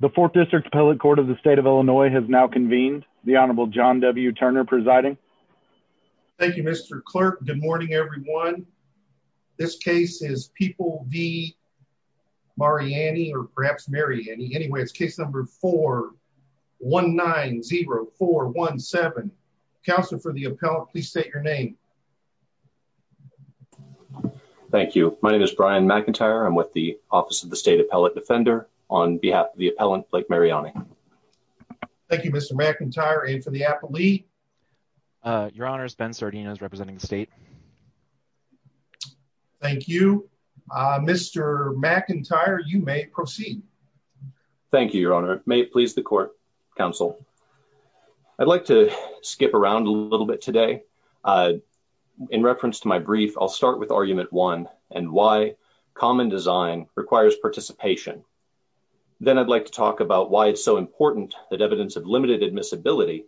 The Fourth District Appellate Court of the State of Illinois has now convened. The Honorable John W. Turner presiding. Thank you, Mr. Clerk. Good morning, everyone. This case is People v. Mariani, or perhaps Mariani. Anyway, it's case number 4190417. Counselor for the appellate, please state your name. Thank you. My name is Brian McIntyre. I'm with the Office of the State Appellate Defender. On behalf of the appellant, Blake Mariani. Thank you, Mr. McIntyre. And for the appellee? Your Honor, Ben Sardino is representing the state. Thank you. Mr. McIntyre, you may proceed. Thank you, Your Honor. May it please the Court, Counsel. I'd like to skip around a little bit today. In reference to my brief, I'll start with then I'd like to talk about why it's so important that evidence of limited admissibility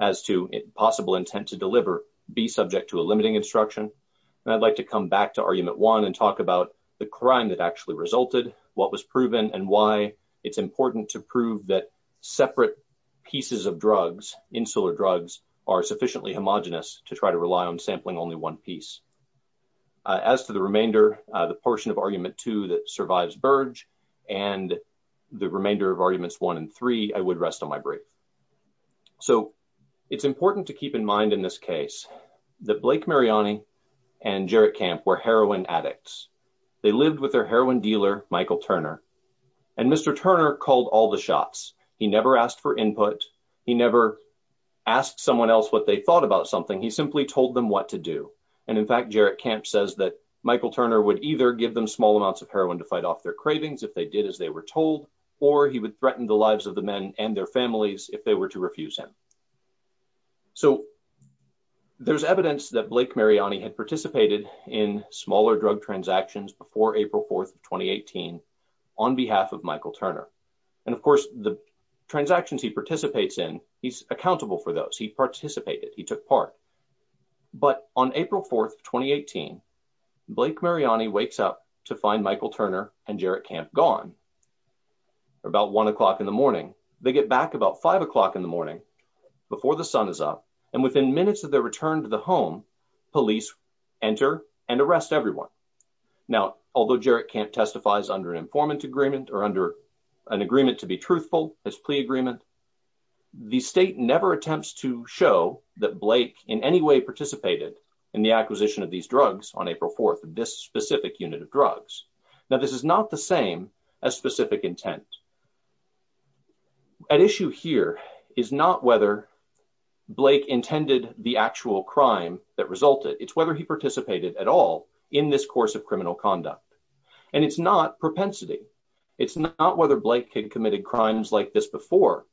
as to possible intent to deliver be subject to a limiting instruction. And I'd like to come back to Argument 1 and talk about the crime that actually resulted, what was proven, and why it's important to prove that separate pieces of drugs, insular drugs, are sufficiently homogenous to try to rely on sampling only one piece. As to the remainder, the portion of Argument 2 that survives Burge, and the remainder of Arguments 1 and 3, I would rest on my brief. So it's important to keep in mind in this case that Blake Mariani and Jerrick Camp were heroin addicts. They lived with their heroin dealer, Michael Turner. And Mr. Turner called all the shots. He never asked for input. He never asked someone else what they thought about something. He simply told them what to do. And in fact, Jerrick Camp says that Michael Turner would either give them small amounts of heroin to fight off their cravings if they did as they were told, or he would threaten the lives of the men and their families if they were to refuse him. So there's evidence that Blake Mariani had participated in smaller drug transactions before April 4th of 2018 on behalf of Michael Turner. And of course, the transactions he But on April 4th, 2018, Blake Mariani wakes up to find Michael Turner and Jerrick Camp gone about one o'clock in the morning. They get back about five o'clock in the morning before the sun is up. And within minutes of their return to the home, police enter and arrest everyone. Now, although Jerrick Camp testifies under an informant agreement or under an agreement to be truthful as plea agreement, the state never attempts to show that Blake in any way participated in the acquisition of these drugs on April 4th of this specific unit of drugs. Now, this is not the same as specific intent. At issue here is not whether Blake intended the actual crime that resulted. It's whether he participated at all in this course of criminal And it's not propensity. It's not whether Blake had committed crimes like this before.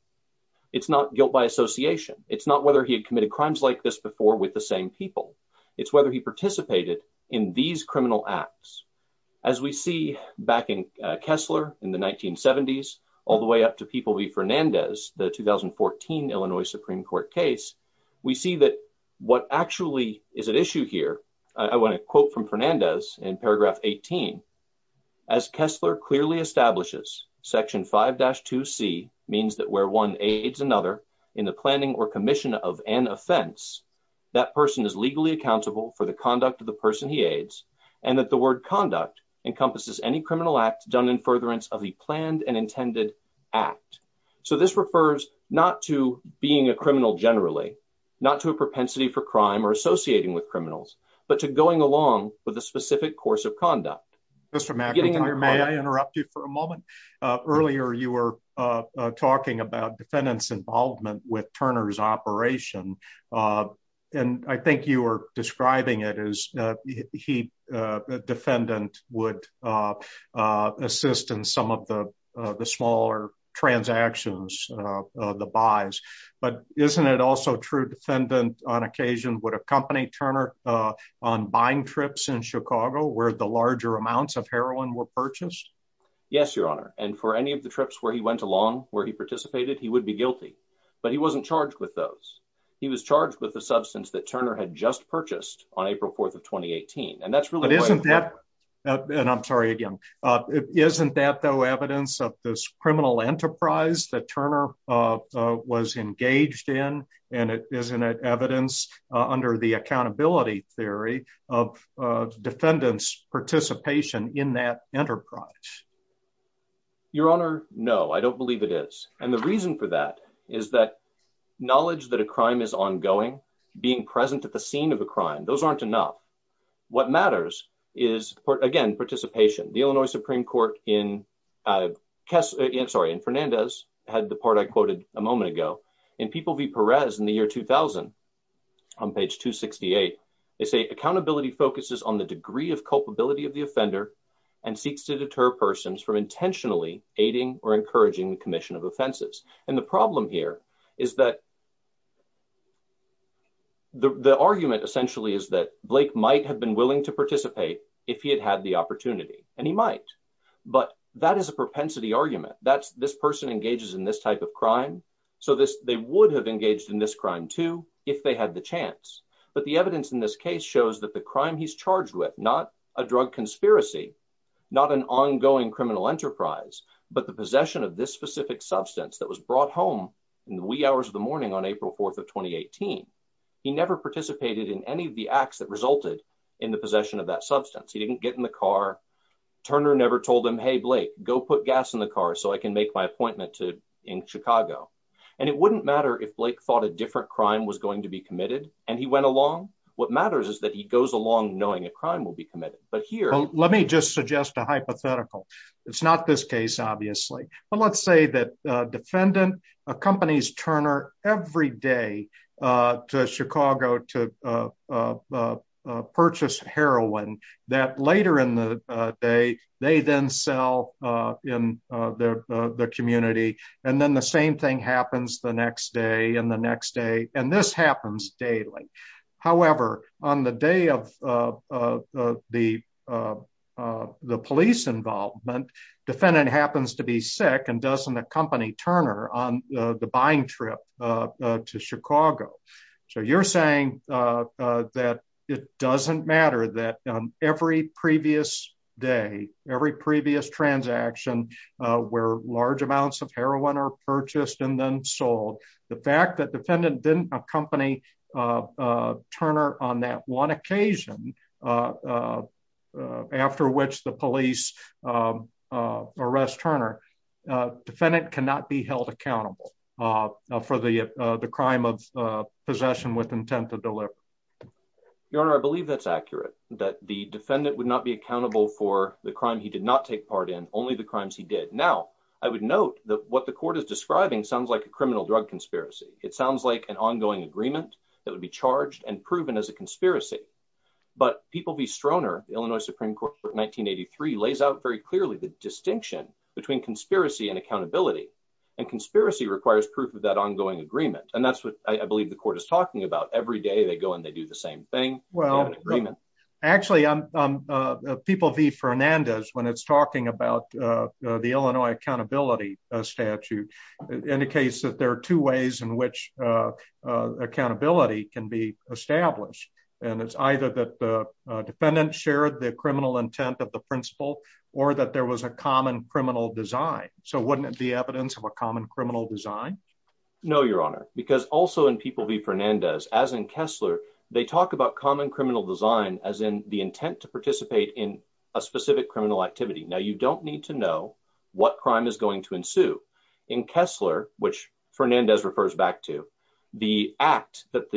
It's not guilt by association. It's not whether he had committed crimes like this before with the same people. It's whether he participated in these criminal acts. As we see back in Kessler in the 1970s, all the way up to people be Fernandez, the 2014 Illinois Supreme Court case, we see that what actually is at issue here, I want to quote from Fernandez in paragraph 18, as Kessler clearly establishes section 5-2C means that where one aids another in the planning or commission of an offense, that person is legally accountable for the conduct of the person he aids and that the word conduct encompasses any criminal act done in furtherance of the planned and not to a propensity for crime or associating with criminals, but to going along with a specific course of conduct. Mr. McIntyre, may I interrupt you for a moment? Earlier, you were talking about defendants involvement with Turner's operation. And I think you were describing it as he defendant would assist in some of the smaller transactions, the buys, but isn't it also true defendant on occasion would accompany Turner on buying trips in Chicago where the larger amounts of heroin were purchased? Yes, your honor. And for any of the trips where he went along, where he participated, he would be guilty, but he wasn't charged with those. He was charged with the substance that Turner had just purchased on April 4th of 2018. And that's really- And I'm sorry, again, isn't that though evidence of this criminal enterprise that Turner was engaged in? And isn't it evidence under the accountability theory of defendant's participation in that enterprise? Your honor, no, I don't believe it is. And the reason for that is that knowledge that a crime is ongoing, being present at the scene of a crime, those aren't enough. What matters is, again, participation. The Illinois Supreme Court in Fernandez had the part I quoted a moment ago. In People v. Perez in the year 2000, on page 268, they say accountability focuses on the degree of culpability of the offender and seeks to deter persons from intentionally aiding or encouraging the commission of offenses. And the problem here is that the argument essentially is that Blake might have been willing to participate if he had had the opportunity, and he might. But that is a propensity argument. That's this person engages in this type of crime, so they would have engaged in this crime too if they had the chance. But the evidence in this case shows that the crime he's charged with, not a drug conspiracy, not an ongoing criminal enterprise, but the possession of this specific substance that was of 2018. He never participated in any of the acts that resulted in the possession of that substance. He didn't get in the car. Turner never told him, hey, Blake, go put gas in the car so I can make my appointment in Chicago. And it wouldn't matter if Blake thought a different crime was going to be committed, and he went along. What matters is that he goes along knowing a crime will be committed. But here- Well, let me just suggest a hypothetical. It's not this case, obviously. Let's say that a defendant accompanies Turner every day to Chicago to purchase heroin that later in the day, they then sell in the community. And then the same thing happens the next day and the next day. And this happens daily. However, on the day of the police involvement, defendant happens to be sick and doesn't accompany Turner on the buying trip to Chicago. So you're saying that it doesn't matter that every previous day, every previous transaction, where large amounts of heroin are purchased and then sold, the fact that defendant didn't accompany Turner on that occasion, after which the police arrest Turner, defendant cannot be held accountable for the crime of possession with intent to deliver. Your Honor, I believe that's accurate, that the defendant would not be accountable for the crime he did not take part in, only the crimes he did. Now, I would note that what the court is describing sounds like a criminal drug conspiracy. It sounds like an ongoing agreement that would be charged and proven as a conspiracy. But People v. Stroner, Illinois Supreme Court 1983 lays out very clearly the distinction between conspiracy and accountability. And conspiracy requires proof of that ongoing agreement. And that's what I believe the court is talking about. Every day they go and they do the same thing. Well, actually, People v. Fernandez, when it's talking about the Illinois accountability statute, indicates that there are two ways in which accountability can be established. And it's either that the defendant shared the criminal intent of the principal, or that there was a common criminal design. So wouldn't it be evidence of a common criminal design? No, Your Honor, because also in People v. Fernandez, as in Kessler, they talk about common criminal design as in the intent to participate in a specific criminal activity. Now, you don't need to know what crime is going to ensue. In Kessler, which Fernandez refers back to, the act that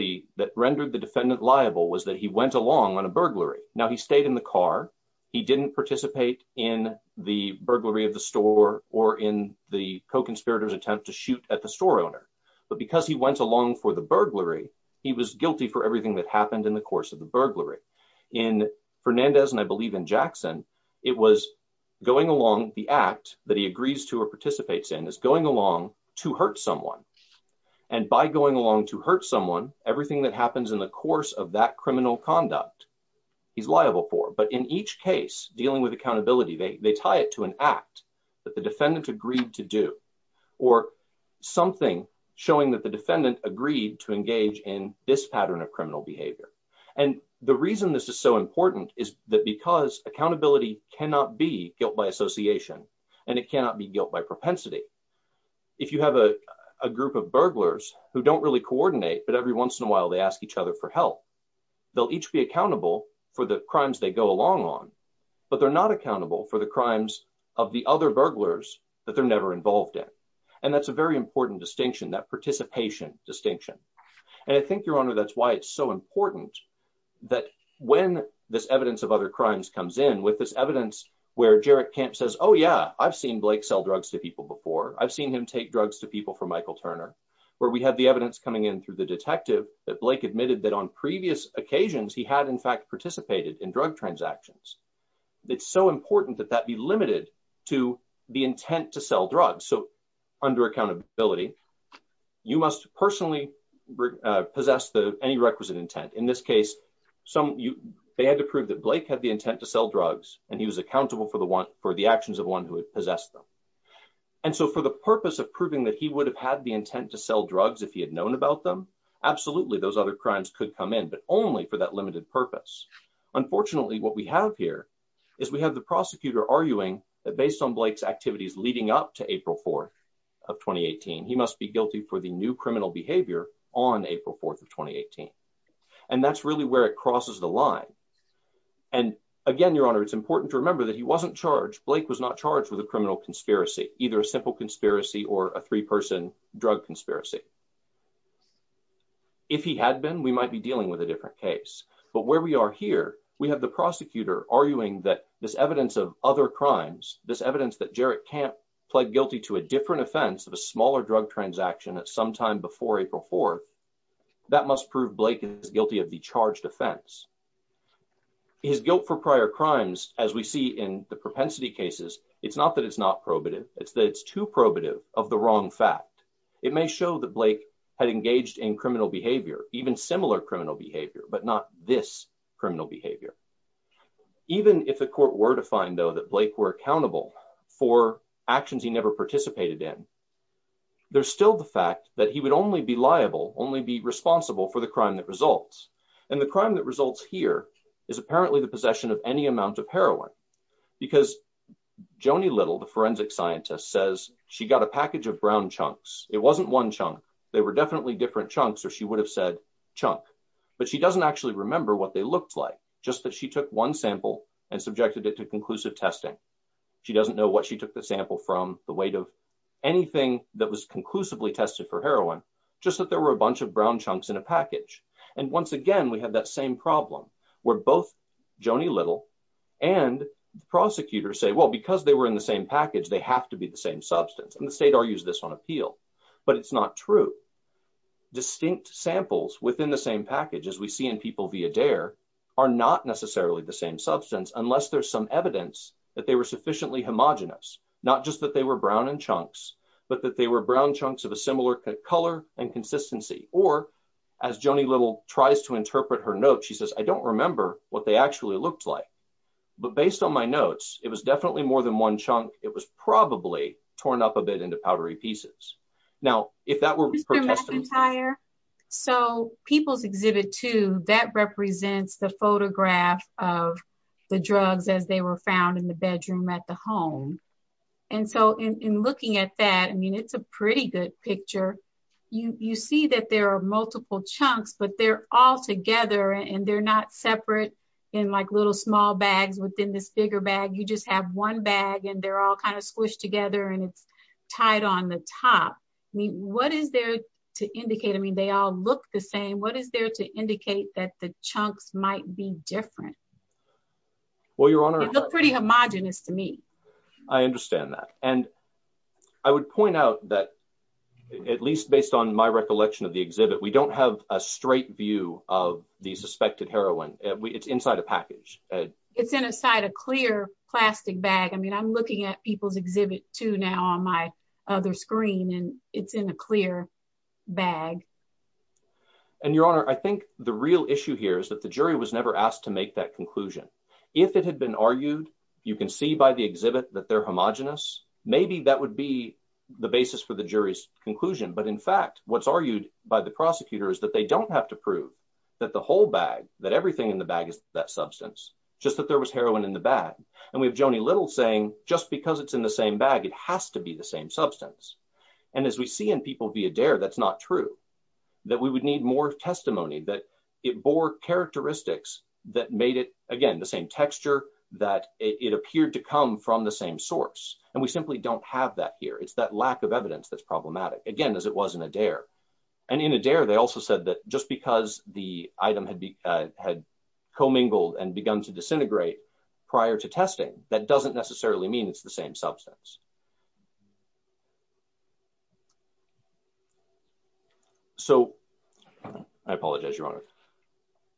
rendered the defendant liable was that he went along on a burglary. Now, he stayed in the car. He didn't participate in the burglary of the store or in the co-conspirators attempt to shoot at the store owner. But because he went along for the burglary, he was guilty for everything that happened in the course of the burglary. In Fernandez, and I believe in Jackson, it was going along the act that he agrees to or participates in is going along to hurt someone. And by going along to hurt someone, everything that happens in the course of that criminal conduct, he's liable for. But in each case, dealing with accountability, they tie it to an act that the defendant agreed to do, or something showing that the defendant agreed to engage in this pattern of cannot be guilt by association, and it cannot be guilt by propensity. If you have a group of burglars who don't really coordinate, but every once in a while, they ask each other for help. They'll each be accountable for the crimes they go along on, but they're not accountable for the crimes of the other burglars that they're never involved in. And that's a very important distinction, that participation distinction. And I think, Your Honor, that's why it's so important that when this evidence of other crimes comes in, this evidence where Jarek Kemp says, oh, yeah, I've seen Blake sell drugs to people before. I've seen him take drugs to people for Michael Turner, where we have the evidence coming in through the detective that Blake admitted that on previous occasions, he had, in fact, participated in drug transactions. It's so important that that be limited to the intent to sell drugs. So under accountability, you must personally possess any requisite intent. In this case, they had to prove that Blake had the intent to sell drugs, and he was accountable for the actions of one who had possessed them. And so for the purpose of proving that he would have had the intent to sell drugs if he had known about them, absolutely, those other crimes could come in, but only for that limited purpose. Unfortunately, what we have here is we have the prosecutor arguing that based on Blake's activities leading up to April 4th of 2018, he must be guilty for the new criminal behavior on April 4th of 2018. And that's really where it crosses the line. And again, Your Honor, it's important to remember that he wasn't charged. Blake was not charged with a criminal conspiracy, either a simple conspiracy or a three-person drug conspiracy. If he had been, we might be dealing with a different case. But where we are here, we have the prosecutor arguing that this evidence of other crimes, this evidence that Jarek Kemp pled guilty to a different offense of a smaller drug transaction at some time before April 4th, that must prove Blake is guilty of the charged offense. His guilt for prior crimes, as we see in the propensity cases, it's not that it's not probative, it's that it's too probative of the wrong fact. It may show that Blake had engaged in criminal behavior, even similar criminal behavior, but not this criminal behavior. Even if the court were to find, though, that Blake were accountable for actions he never participated in, there's still the fact that he would only be liable, only be responsible for the crime that results. And the crime that results here is apparently the possession of any amount of heroin. Because Joni Little, the forensic scientist, says she got a package of brown chunks. It wasn't one chunk. They were definitely different chunks, or she would have said chunk. But she doesn't actually remember what they looked like, just that she took one sample and subjected it to conclusive testing. She doesn't know what she took the sample from, the weight of anything that was conclusively tested for heroin, just that there were a bunch of brown chunks in a package. And once again, we have that same problem, where both Joni Little and the prosecutor say, well, because they were in the same package, they have to be the same substance. And the state argues this on appeal. But it's not true. Distinct samples within the same package, as we see in people via DARE, are not necessarily the same substance, unless there's some evidence that they were sufficiently homogenous. Not just that they were brown in chunks, but that they were brown chunks of a similar color and consistency. Or, as Joni Little tries to interpret her note, she says, I don't remember what they actually looked like. But based on my notes, it was definitely more than one chunk. It was probably torn up a bit into powdery pieces. Now, if that were Mr. McIntyre, so People's Exhibit 2, that represents the photograph of the drugs as they were found in the bedroom at the home. And so in looking at that, I mean, it's a pretty good picture. You see that there are multiple chunks, but they're all together, and they're not separate in like little small bags within this bigger bag. You just have one bag, and they're all squished together, and it's tied on the top. I mean, what is there to indicate? I mean, they all look the same. What is there to indicate that the chunks might be different? Well, Your Honor. They look pretty homogenous to me. I understand that. And I would point out that, at least based on my recollection of the exhibit, we don't have a straight view of the suspected heroin. It's inside a package. It's inside a clear plastic bag. I mean, I'm looking at People's Exhibit 2 now on my other screen, and it's in a clear bag. And Your Honor, I think the real issue here is that the jury was never asked to make that conclusion. If it had been argued, you can see by the exhibit that they're homogenous. Maybe that would be the basis for the jury's conclusion. But in fact, what's argued by the prosecutor is that they don't have to prove that the whole bag, that everything in the bag is that substance, just that there was heroin in the bag. And we have Joanie Little saying, just because it's in the same bag, it has to be the same substance. And as we see in People v. Adair, that's not true, that we would need more testimony, that it bore characteristics that made it, again, the same texture, that it appeared to come from the same source. And we simply don't have that here. It's that lack of evidence that's problematic, again, as it was in Adair. And in Adair, they also said that just because the item had commingled and begun to disintegrate prior to testing, that doesn't necessarily mean it's the same substance. So I apologize, Your Honor.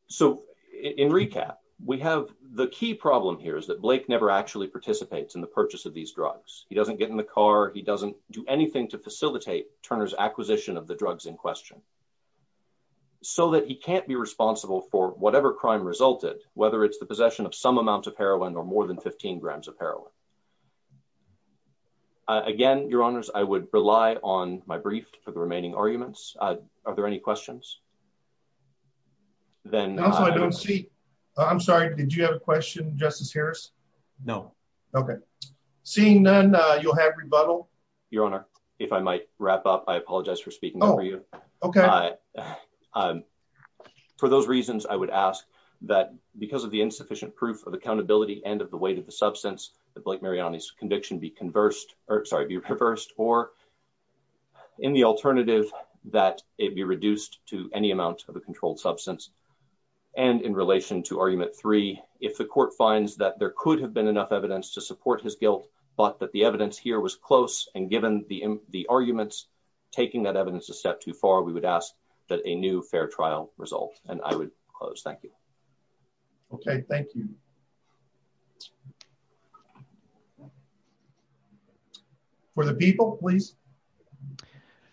So in recap, we have the key problem here is that Blake never actually participates in the purchase of these drugs. He doesn't get in the car. He doesn't do anything to facilitate Turner's acquisition of the drugs in question. So that he can't be responsible for whatever crime resulted, whether it's the possession of some amount of heroin or more than 15 grams of heroin. Again, Your Honors, I would rely on my brief for the remaining arguments. Are there any questions? I'm sorry, did you have a question, Justice Harris? No. Okay. Seeing none, you'll have rebuttal. Your Honor, if I might wrap up, I apologize for speaking over you. Okay. For those reasons, I would ask that because of the insufficient proof of accountability and of the weight of the substance, that Blake Mariani's conviction be conversed, or sorry, be reversed, or in the alternative, that it be reduced to any amount of a controlled substance. And in relation to argument three, if the court finds that there could have been enough evidence to support his guilt, but that the evidence here was close, and given the arguments, taking that evidence a step too far, we would ask that a new fair trial result. And I would close. Thank you. Okay. Thank you. For the people, please.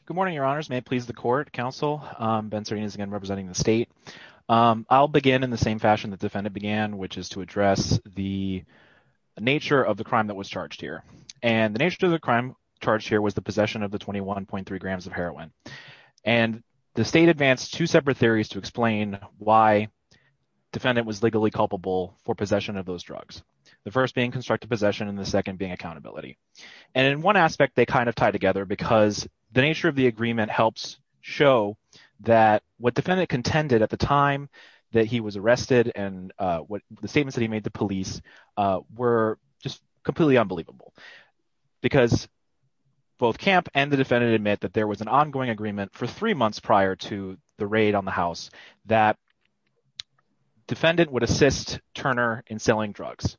Good morning, Your Honors. May it please the court, counsel. Ben Sardinia, again, representing the state. I'll begin in the same fashion the defendant began, which is to address the nature of the crime that was charged here. And the nature of the crime charged here was the possession of the 21.3 grams of heroin. And the state advanced two separate theories to explain why the defendant was legally culpable for possession of those drugs, the first being constructed possession and the second being accountability. And in one aspect, they kind of tie together because the nature of the agreement helps show that what defendant contended at the time that he was arrested and the statements that he made to police were just completely unbelievable. Because both camp and the defendant admit that there was an ongoing agreement for three months prior to the raid on the house, that defendant would assist Turner in selling drugs.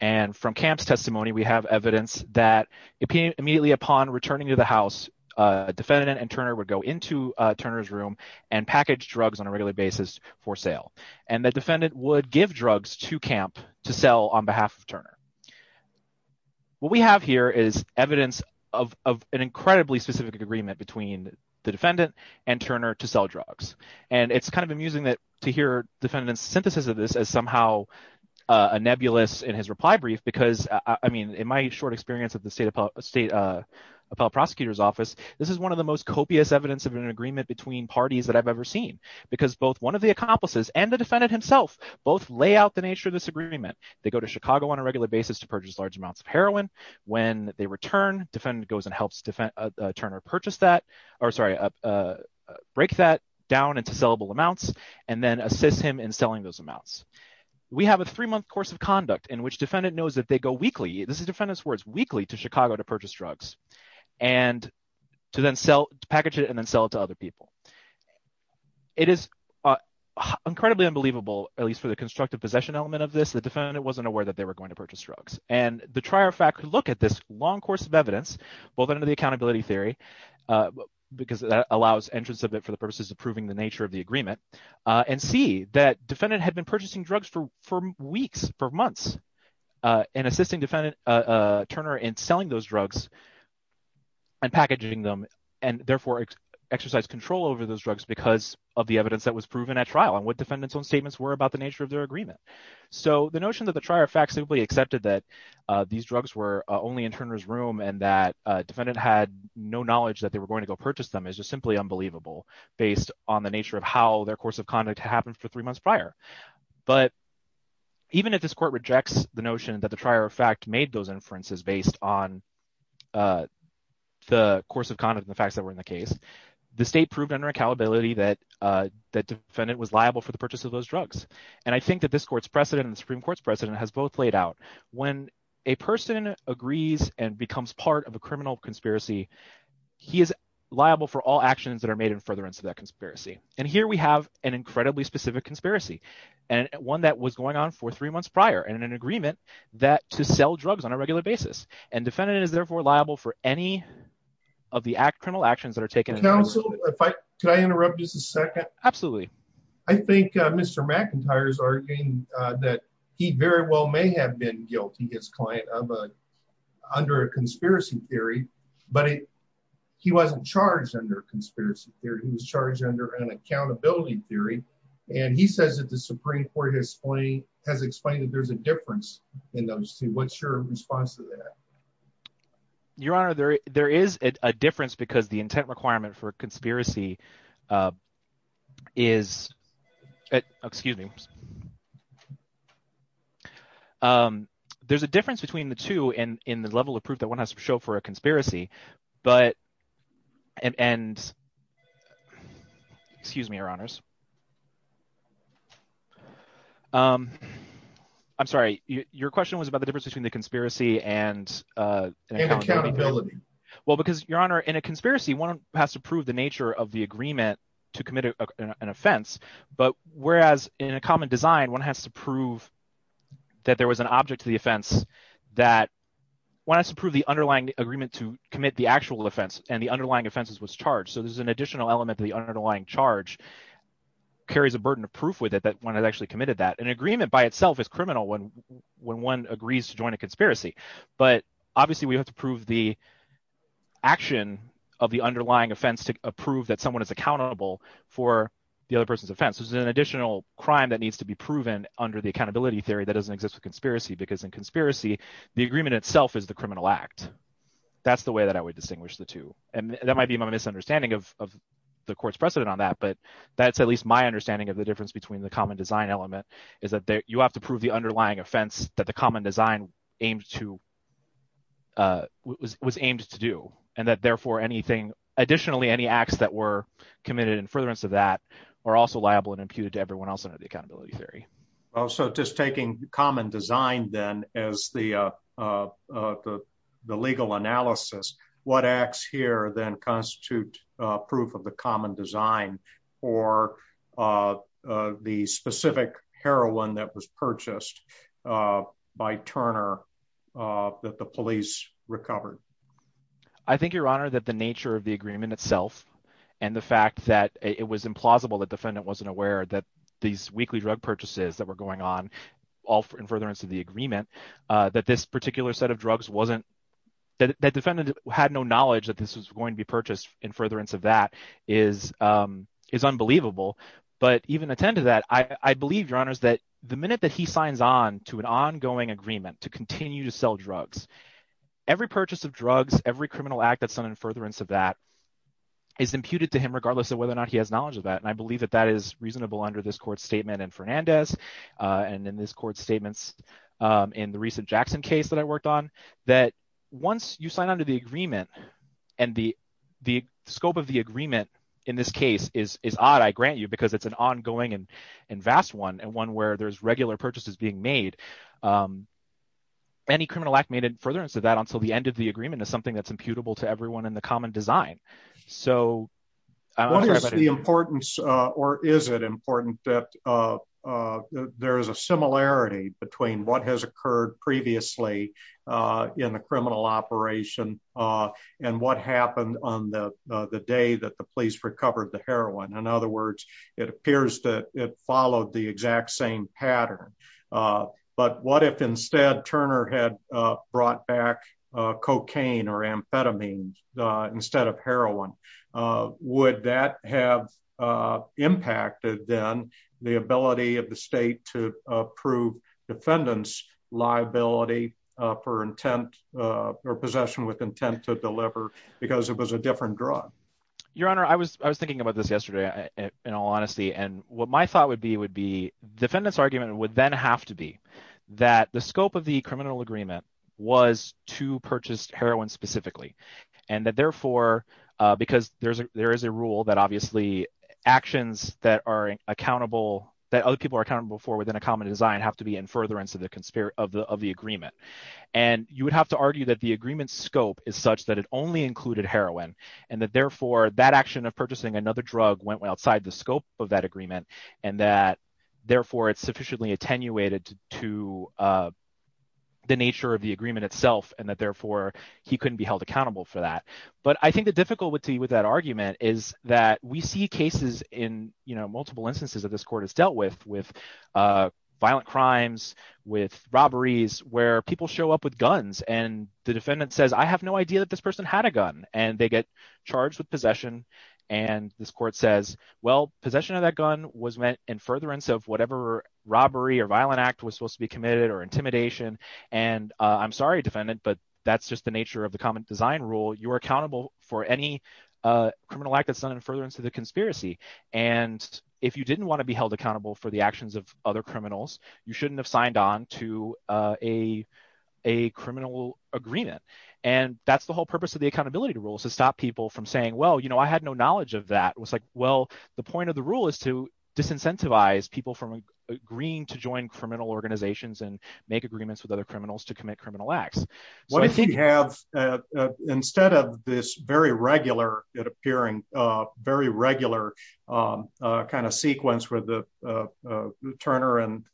And from camp's testimony, we have evidence that immediately upon returning to the house, defendant and Turner would go into Turner's room and package drugs on a regular basis for sale. And the defendant would give drugs to camp to sell on behalf of Turner. What we have here is evidence of an incredibly specific agreement between the defendant and Turner to sell drugs. And it's kind of amusing that to hear defendants synthesis of this as somehow a nebulous in his reply brief, because I mean, in my short experience at the state appellate prosecutor's office, this is one of the most copious evidence of an agreement between parties that I've ever seen, because both one of the accomplices and the defendant himself both lay out the nature of this agreement. They go to Chicago on a regular basis to purchase large amounts of heroin. When they return, defendant goes and helps Turner purchase that, or sorry, break that down into sellable amounts and then assist him in selling those amounts. We have a three-month course of conduct in which defendant knows that they go weekly. This is defendant's words, weekly to Chicago to purchase drugs and to then sell, to package it and then sell it to other people. It is incredibly unbelievable, at least for the constructive possession element of this, the defendant wasn't aware that they were going to purchase drugs. And the trier of fact could look at this long course of evidence, both under the accountability theory, because that allows entrance of it for the purposes of proving the nature of the agreement, and see that defendant had been purchasing drugs for weeks, for months, and assisting defendant Turner in selling those drugs and packaging them and therefore exercise control over those drugs because of the evidence that was proven at trial and what defendant's own statements were about the nature of their agreement. So the notion that the trier of fact simply accepted that these drugs were only in Turner's room and that defendant had no knowledge that they were going to go purchase them is just simply unbelievable based on the nature of how their course of conduct happened for three months prior. But even if this court rejects the notion that the trier of fact made those inferences based on the course of conduct and the facts that were in the case, the state proved under accountability that the defendant was liable for the purchase of those drugs. And I think that this court's precedent and the Supreme Court's precedent has both laid out. When a person agrees and becomes part of a criminal conspiracy, he is liable for all actions that are made in furtherance of that conspiracy. And here we have an incredibly specific conspiracy, and one that was going on for three months prior and an agreement that to sell drugs on a regular basis, and defendant is therefore liable for any of the criminal actions that are taken. Counsel, could I interrupt just a second? Absolutely. I think Mr. McIntyre's arguing that he very well may have been guilty, his client, under a conspiracy theory, but he wasn't charged under a conspiracy theory. He was charged under an accountability theory. And he says that the Supreme Court has explained that there's a difference in those two. What's your response to that? Your Honor, there is a difference because the intent requirement for a conspiracy is, excuse me, there's a difference between the two in the level of proof that one has to show for a conspiracy, but, and, excuse me, Your Honors. I'm sorry, your question was about the difference between the conspiracy and accountability. Well, because, Your Honor, in a conspiracy, one has to prove the nature of the agreement to commit an offense, but whereas in a common design, one has to prove that there was an object to the offense, that one has to prove the underlying agreement to commit the actual offense, and the underlying offenses was charged. So there's an additional element to the underlying charge carries a burden of proof with it that one has actually committed that. An agreement by itself is criminal when one agrees to join a conspiracy, but obviously we have to prove the action of the underlying offense to prove that someone is accountable for the other person's offense. There's an additional crime that needs to be proven under the accountability theory that doesn't exist with conspiracy because in conspiracy, the agreement itself is the criminal act. That's the way that I would distinguish the two. And that might be my misunderstanding of the court's precedent on that, but that's at least my understanding of the difference between the common design element is that you have to prove the underlying offense that the common design was aimed to do, and that therefore, additionally, any acts that were committed in furtherance of that are also liable and imputed to everyone else under the accountability theory. Well, so just taking common design then as the legal analysis, what acts here then constitute proof of the common design or the specific heroin that was purchased by Turner that the police recovered? I think, Your Honor, that the nature of the agreement itself and the fact that it was implausible that defendant wasn't aware that these weekly drug purchases that were going on all in furtherance of the agreement, that this particular set of drugs wasn't, that defendant had no knowledge that this was going to be purchased in furtherance of that is unbelievable. But even attended that, I believe, Your Honors, that the minute that he signs on to an ongoing agreement to continue to sell drugs, every purchase of drugs, every criminal act that's done in furtherance of that is imputed to him regardless of whether or not he has knowledge of that. And I believe that that is reasonable under this court statement in Fernandez and in this court statements in the recent Jackson case that I worked on, that once you sign on to the agreement and the scope of the agreement in this case is odd, I grant you, because it's an ongoing and vast one and one where there's regular purchases being made, any criminal act made in furtherance of that until the end of the agreement is something that's imputable to everyone in the common design. So- What is the importance or is it important that there is a similarity between what has occurred previously in the criminal operation and what happened on the day that the police recovered the heroin? In other words, it appears that it followed the exact same pattern. But what if instead Turner had brought back cocaine or amphetamines instead of heroin? Would that have impacted then the ability of the state to approve defendant's liability for intent or possession with intent to deliver because it was a different drug? Your Honor, I was I was thinking about this yesterday, in all honesty, and what my thought would be would be defendant's argument would then have to be that the scope of the criminal agreement was to purchase heroin specifically and that therefore because there is a rule that obviously actions that are accountable that other people are accountable for within a common design have to be in furtherance of the agreement. And you would have to argue that the agreement's scope is such that it only included heroin and that therefore that action of purchasing another drug went outside the scope of that agreement and that therefore it's sufficiently attenuated to the nature of the agreement itself and that therefore he couldn't be held accountable for that. But I think the difficulty with that argument is that we see cases in multiple instances that this court has dealt with, with violent crimes, with robberies, where people show up with guns and the defendant says, I have no idea that this person had a gun and they get charged with possession. And this court says, well, possession of that gun was meant in furtherance of whatever robbery or violent act was supposed to be committed or intimidation. And I'm sorry, defendant, but that's just the nature of the common design rule. You are accountable for any criminal act that's done in furtherance of the conspiracy. And if you didn't want to be held accountable for the actions of other criminals, you shouldn't have signed on to a criminal agreement. And that's the whole purpose of the accountability rules to stop people from saying, well, you know, I had no knowledge of that. It was like, well, the point of the rule is to disincentivize people from agreeing to join criminal organizations and make agreements with other criminals to commit criminal acts. What I think we have instead of this very regular, it appearing very regular kind of sequence where the Turner and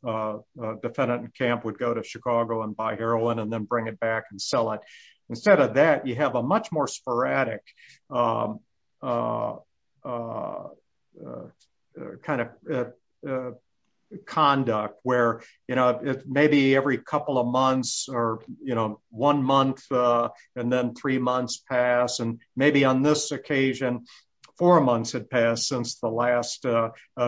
defendant in camp would go to Chicago and buy heroin and then bring it back and sell it. Instead of that, you have a much more sporadic kind of conduct where, you know, maybe every couple of months or, you know, one month and then three months pass. And maybe on this occasion, four months had passed since the last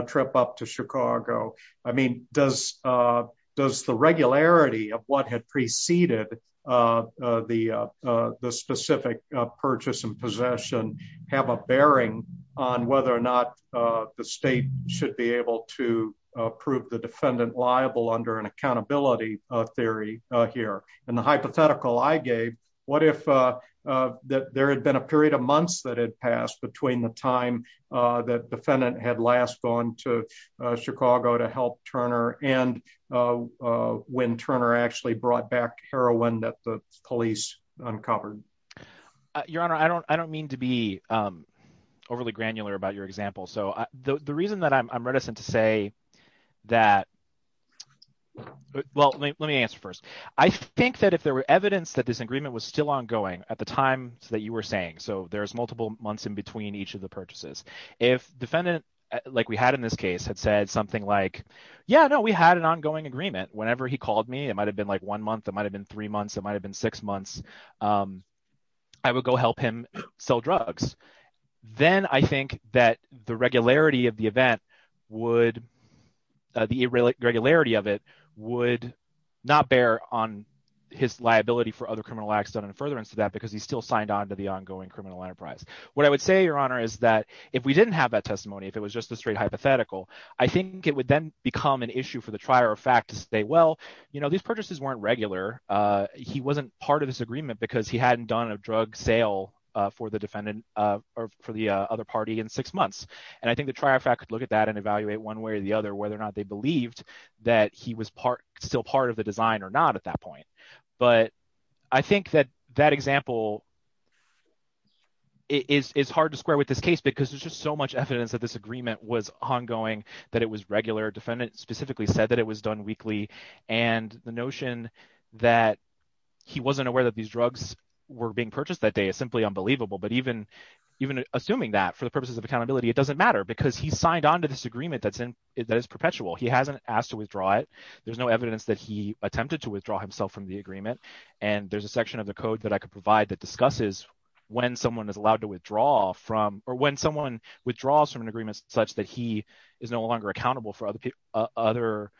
trip up to Chicago. I mean, does the regularity of what had preceded the specific purchase and possession have a bearing on whether or not the state should be able to prove the defendant liable under an accountability theory here? And the hypothetical I gave, what if there had been a period of months that had passed between the time that defendant had last gone to Chicago to help Turner and when Turner actually brought back heroin that the police uncovered? Your Honor, I don't mean to be overly granular about your example. So the reason that I'm reticent to say that, well, let me answer first. I think that if there were evidence that this agreement was still ongoing at the time that you were saying, so there's multiple months in each of the purchases. If defendant, like we had in this case, had said something like, yeah, no, we had an ongoing agreement. Whenever he called me, it might've been like one month, it might've been three months, it might've been six months. I would go help him sell drugs. Then I think that the regularity of the event would, the irregularity of it would not bear on his liability for other criminal acts done in furtherance to that because he's still signed the ongoing criminal enterprise. What I would say, Your Honor, is that if we didn't have that testimony, if it was just a straight hypothetical, I think it would then become an issue for the trier of fact to say, well, these purchases weren't regular. He wasn't part of this agreement because he hadn't done a drug sale for the defendant or for the other party in six months. And I think the trier of fact could look at that and evaluate one way or the other, whether or not they believed that he was still part of the design or not at that point. But I think that that example is hard to square with this case because there's just so much evidence that this agreement was ongoing, that it was regular. The defendant specifically said that it was done weekly. And the notion that he wasn't aware that these drugs were being purchased that day is simply unbelievable. But even assuming that for the purposes of accountability, it doesn't matter because he signed onto this agreement that is perpetual. He hasn't asked to withdraw it. There's no evidence that he attempted to withdraw himself from the agreement. And there's a section of the code that I could provide that discusses when someone is allowed to withdraw from or when someone withdraws from an agreement such that he is no longer accountable for other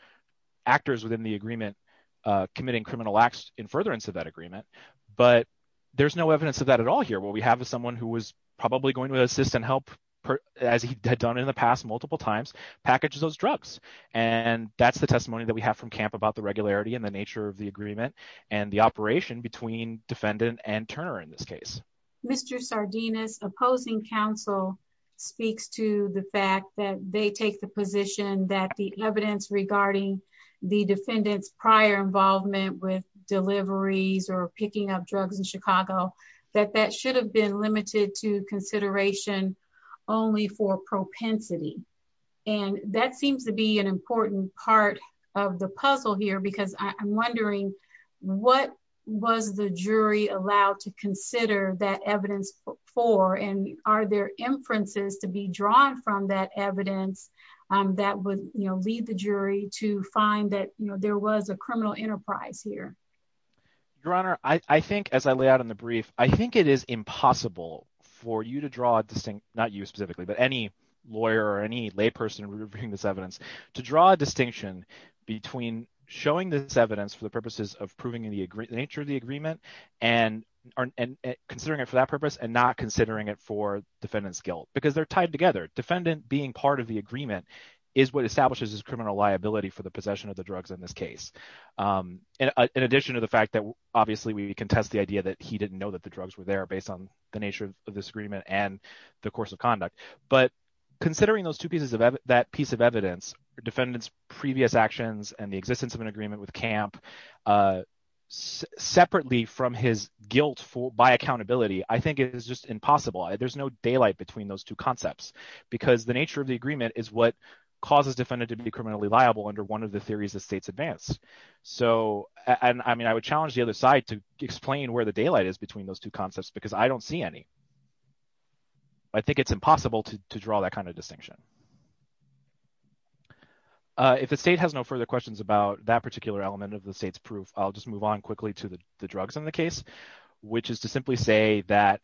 actors within the agreement committing criminal acts in furtherance of that agreement. But there's no evidence of that at all here. What we have is someone who was probably going to assist and help, as he had done in the past multiple times, package those drugs. And that's the testimony that we have from CAMP about the regularity and the nature of the agreement and the operation between defendant and Turner in this case. Mr. Sardinas, opposing counsel speaks to the fact that they take the position that the evidence regarding the defendant's prior involvement with deliveries or picking up drugs in Chicago, that that should have been an important part of the puzzle here, because I'm wondering, what was the jury allowed to consider that evidence for? And are there inferences to be drawn from that evidence that would lead the jury to find that there was a criminal enterprise here? Your Honor, I think as I lay out in the brief, I think it is impossible for you to draw a distinct, not you specifically, but any lawyer or any lay person reviewing this evidence, to draw a distinction between showing this evidence for the purposes of proving the nature of the agreement and considering it for that purpose and not considering it for defendant's guilt, because they're tied together. Defendant being part of the agreement is what establishes his criminal liability for the possession of the drugs in this case, in addition to the fact that obviously we contest the idea that he didn't know that the drugs were there based on the nature of this agreement and the course of conduct. But considering those two pieces of that piece of evidence, defendant's previous actions and the existence of an agreement with camp, separately from his guilt by accountability, I think it is just impossible. There's no daylight between those two concepts, because the nature of the agreement is what causes defendant to be criminally liable under one of the theories the states advance. So, I mean, I would challenge the other side to explain where the daylight is those two concepts, because I don't see any. I think it's impossible to draw that kind of distinction. If the state has no further questions about that particular element of the state's proof, I'll just move on quickly to the drugs in the case, which is to simply say that,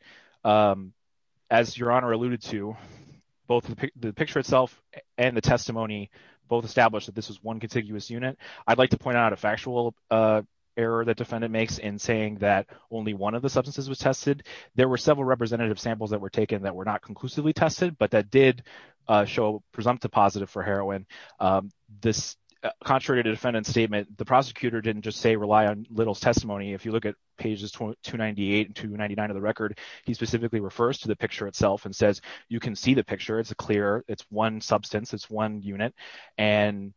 as your honor alluded to, both the picture itself and the testimony both establish that this is one contiguous unit. I'd like to point out a factual error that defendant makes in saying that only one of the substances was tested. There were several representative samples that were taken that were not conclusively tested, but that did show presumptive positive for heroin. This, contrary to defendant's statement, the prosecutor didn't just say rely on Little's testimony. If you look at pages 298 and 299 of the record, he specifically refers to the picture itself and says, you can see the picture. It's a clear, it's one substance, it's one unit, and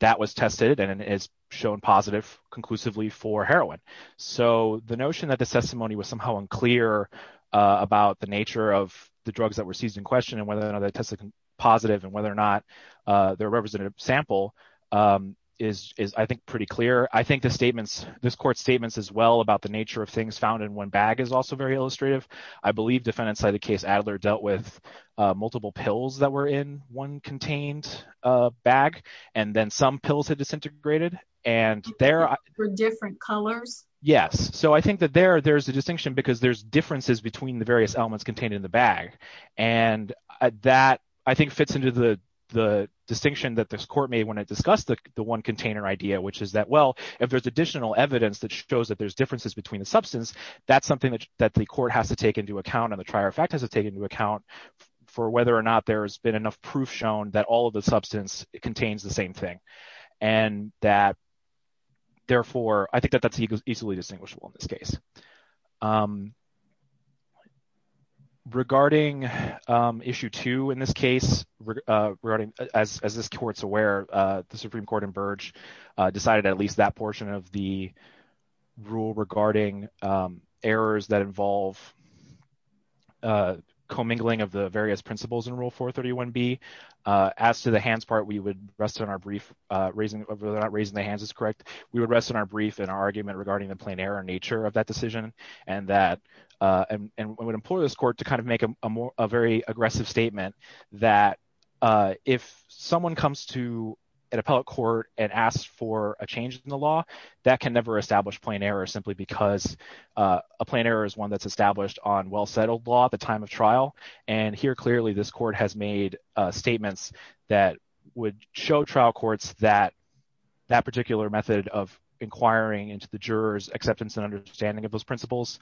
that was tested and it's shown positive conclusively for heroin. So the notion that the testimony was somehow unclear about the nature of the drugs that were seized in question and whether or not they tested positive and whether or not they're a representative sample is, I think, pretty clear. I think the statements, this court's statements, as well, about the nature of things found in one bag is also very illustrative. I believe defendant's case, Adler, dealt with multiple pills that were in one contained bag and then some pills had disintegrated and there were different colors. Yes, so I think that there there's a distinction because there's differences between the various elements contained in the bag and that, I think, fits into the distinction that this court made when I discussed the one container idea, which is that, well, if there's additional evidence that shows that there's differences between the that's something that the court has to take into account and the trier of fact has to take into account for whether or not there's been enough proof shown that all of the substance contains the same thing and that, therefore, I think that that's easily distinguishable in this case. Regarding issue two in this case, regarding, as this court's aware, the Supreme Court in errors that involve commingling of the various principles in rule 431b, as to the hands part, we would rest on our brief, raising, raising the hands is correct, we would rest on our brief in our argument regarding the plain error nature of that decision and that, and we would implore this court to kind of make a more, a very aggressive statement that if someone comes to an appellate court and asks for a change in the law, that can never establish plain error simply because a plain error is one that's established on well-settled law at the time of trial and here, clearly, this court has made statements that would show trial courts that that particular method of inquiring into the juror's acceptance and understanding of those principles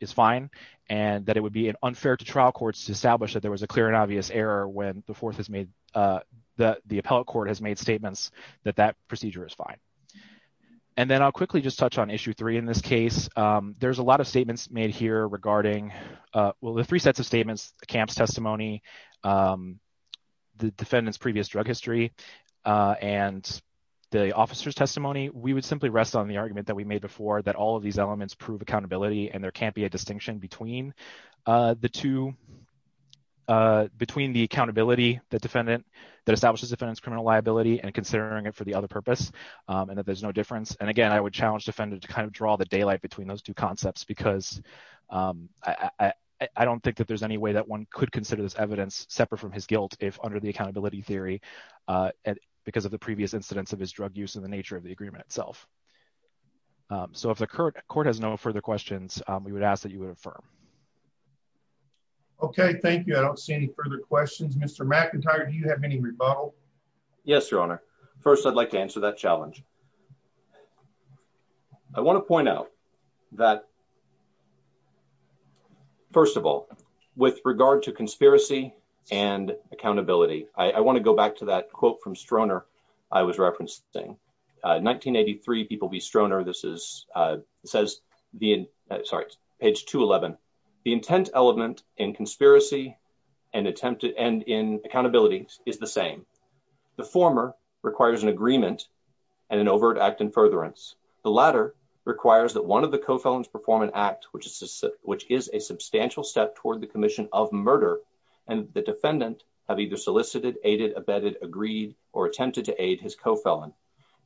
is fine and that it would be unfair to trial courts to establish that there was a clear and obvious error when the fourth has made, the appellate court has made statements that that procedure is fine. And then I'll quickly just touch on issue three in this case, there's a lot of statements made here regarding, well, the three sets of statements, the camp's testimony, the defendant's previous drug history, and the officer's testimony, we would simply rest on the argument that we made before that all of these elements prove accountability and there can't be a distinction between the two, between the accountability that defendant, that establishes criminal liability and considering it for the other purpose and that there's no difference. And again, I would challenge defendant to kind of draw the daylight between those two concepts because I don't think that there's any way that one could consider this evidence separate from his guilt if under the accountability theory, because of the previous incidents of his drug use and the nature of the agreement itself. So if the court has no further questions, we would ask that you would affirm. Okay, thank you. I don't see any further questions. Mr. McIntyre, do you have any rebuttal? Yes, Your Honor. First, I'd like to answer that challenge. I want to point out that, first of all, with regard to conspiracy and accountability, I want to go back to that quote from Stroner I was referencing. 1983, people be Stroner. This is, uh, says the, sorry, page 211, the intent element in conspiracy and attempted and in accountability is the same. The former requires an agreement and an overt act in furtherance. The latter requires that one of the co-felons perform an act, which is a substantial step toward the commission of murder. And the defendant have either solicited, aided, abetted, agreed, or attempted to aid his co-felon.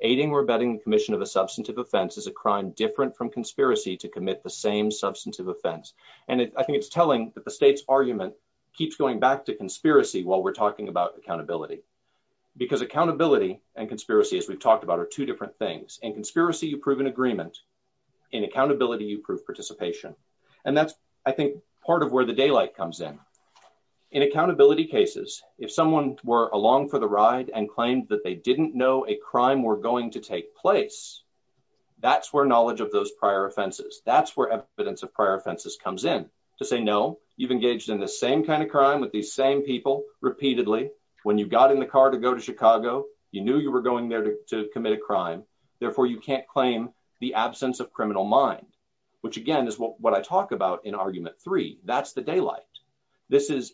Aiding or abetting commission of a substantive offense is a crime different from conspiracy to commit the same substantive offense. And I think it's telling that the state's argument keeps going back to because accountability and conspiracy, as we've talked about, are two different things. In conspiracy, you prove an agreement. In accountability, you prove participation. And that's, I think, part of where the daylight comes in. In accountability cases, if someone were along for the ride and claimed that they didn't know a crime were going to take place, that's where knowledge of those prior offenses, that's where evidence of prior offenses comes in to say, no, you've engaged in the same kind of crime with these same people repeatedly. When you got in the car to go to Chicago, you knew you were going there to commit a crime. Therefore, you can't claim the absence of criminal mind, which again is what I talk about in argument three. That's the daylight. This is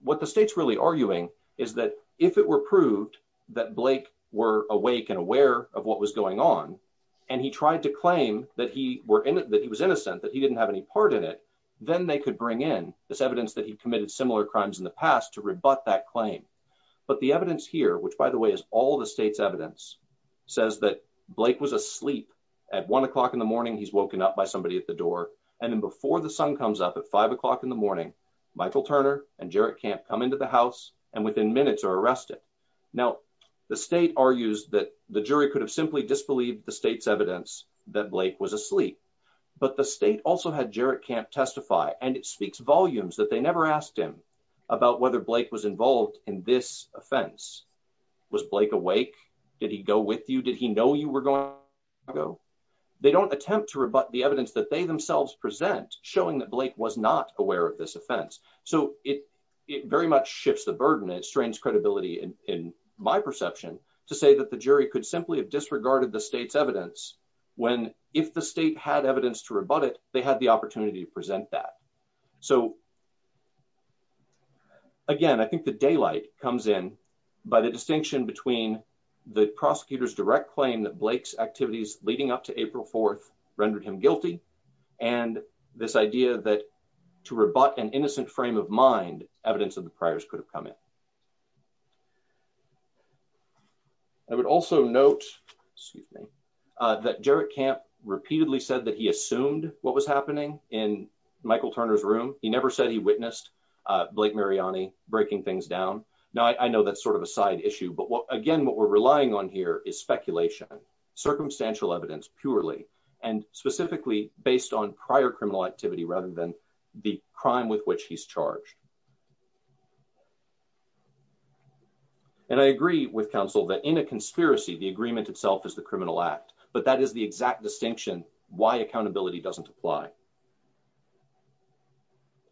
what the state's really arguing is that if it were proved that Blake were awake and aware of what was going on, and he tried to claim that he was innocent, that he didn't have any part in it, then they could bring in this evidence that he committed similar crimes in the past to rebut that claim. But the evidence here, which by the way, is all the state's evidence, says that Blake was asleep at one o'clock in the morning. He's woken up by somebody at the door. And then before the sun comes up at five o'clock in the morning, Michael Turner and Jarrett Camp come into the house and within minutes are arrested. Now, the state argues that the jury could have simply disbelieved the state's evidence that Blake was asleep. But the about whether Blake was involved in this offense, was Blake awake? Did he go with you? Did he know you were going to go? They don't attempt to rebut the evidence that they themselves present, showing that Blake was not aware of this offense. So it very much shifts the burden. It strains credibility in my perception to say that the jury could simply have disregarded the state's evidence when if the state had evidence to rebut it, they had the opportunity to present that. So again, I think the daylight comes in by the distinction between the prosecutor's direct claim that Blake's activities leading up to April 4th rendered him guilty and this idea that to rebut an innocent frame of mind, evidence of the priors could have come in. I would also note, excuse me, that Jarrett Camp repeatedly said that he assumed what was happening in Michael Turner's room. He never said he witnessed Blake Mariani breaking things down. Now, I know that's sort of a side issue, but again, what we're relying on here is speculation, circumstantial evidence purely, and specifically based on prior criminal activity rather than the crime with which he's charged. And I agree with counsel that in a conspiracy, the agreement itself is the criminal act, but that is the exact distinction why accountability doesn't apply.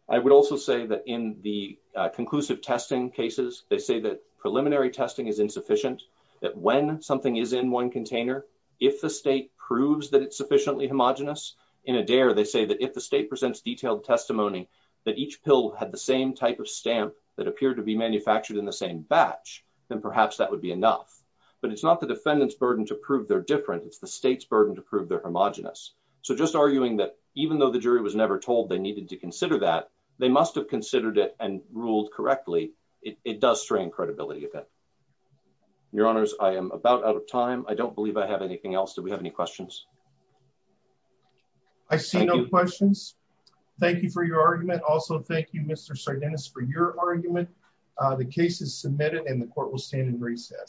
I would also say that in the conclusive testing cases, they say that preliminary testing is insufficient, that when something is in one container, if the state proves that it's sufficiently homogenous in a dare, they say that if the state presents detailed testimony that each pill had the same type of stamp that appeared to be manufactured in the same batch, then perhaps that would be enough. But it's not the defendant's to prove they're homogenous. So just arguing that even though the jury was never told they needed to consider that, they must have considered it and ruled correctly, it does strain credibility. Your honors, I am about out of time. I don't believe I have anything else. Do we have any questions? I see no questions. Thank you for your argument. Also, thank you, Mr. Sardinus, for your argument. The case is submitted and the court will stand in recess.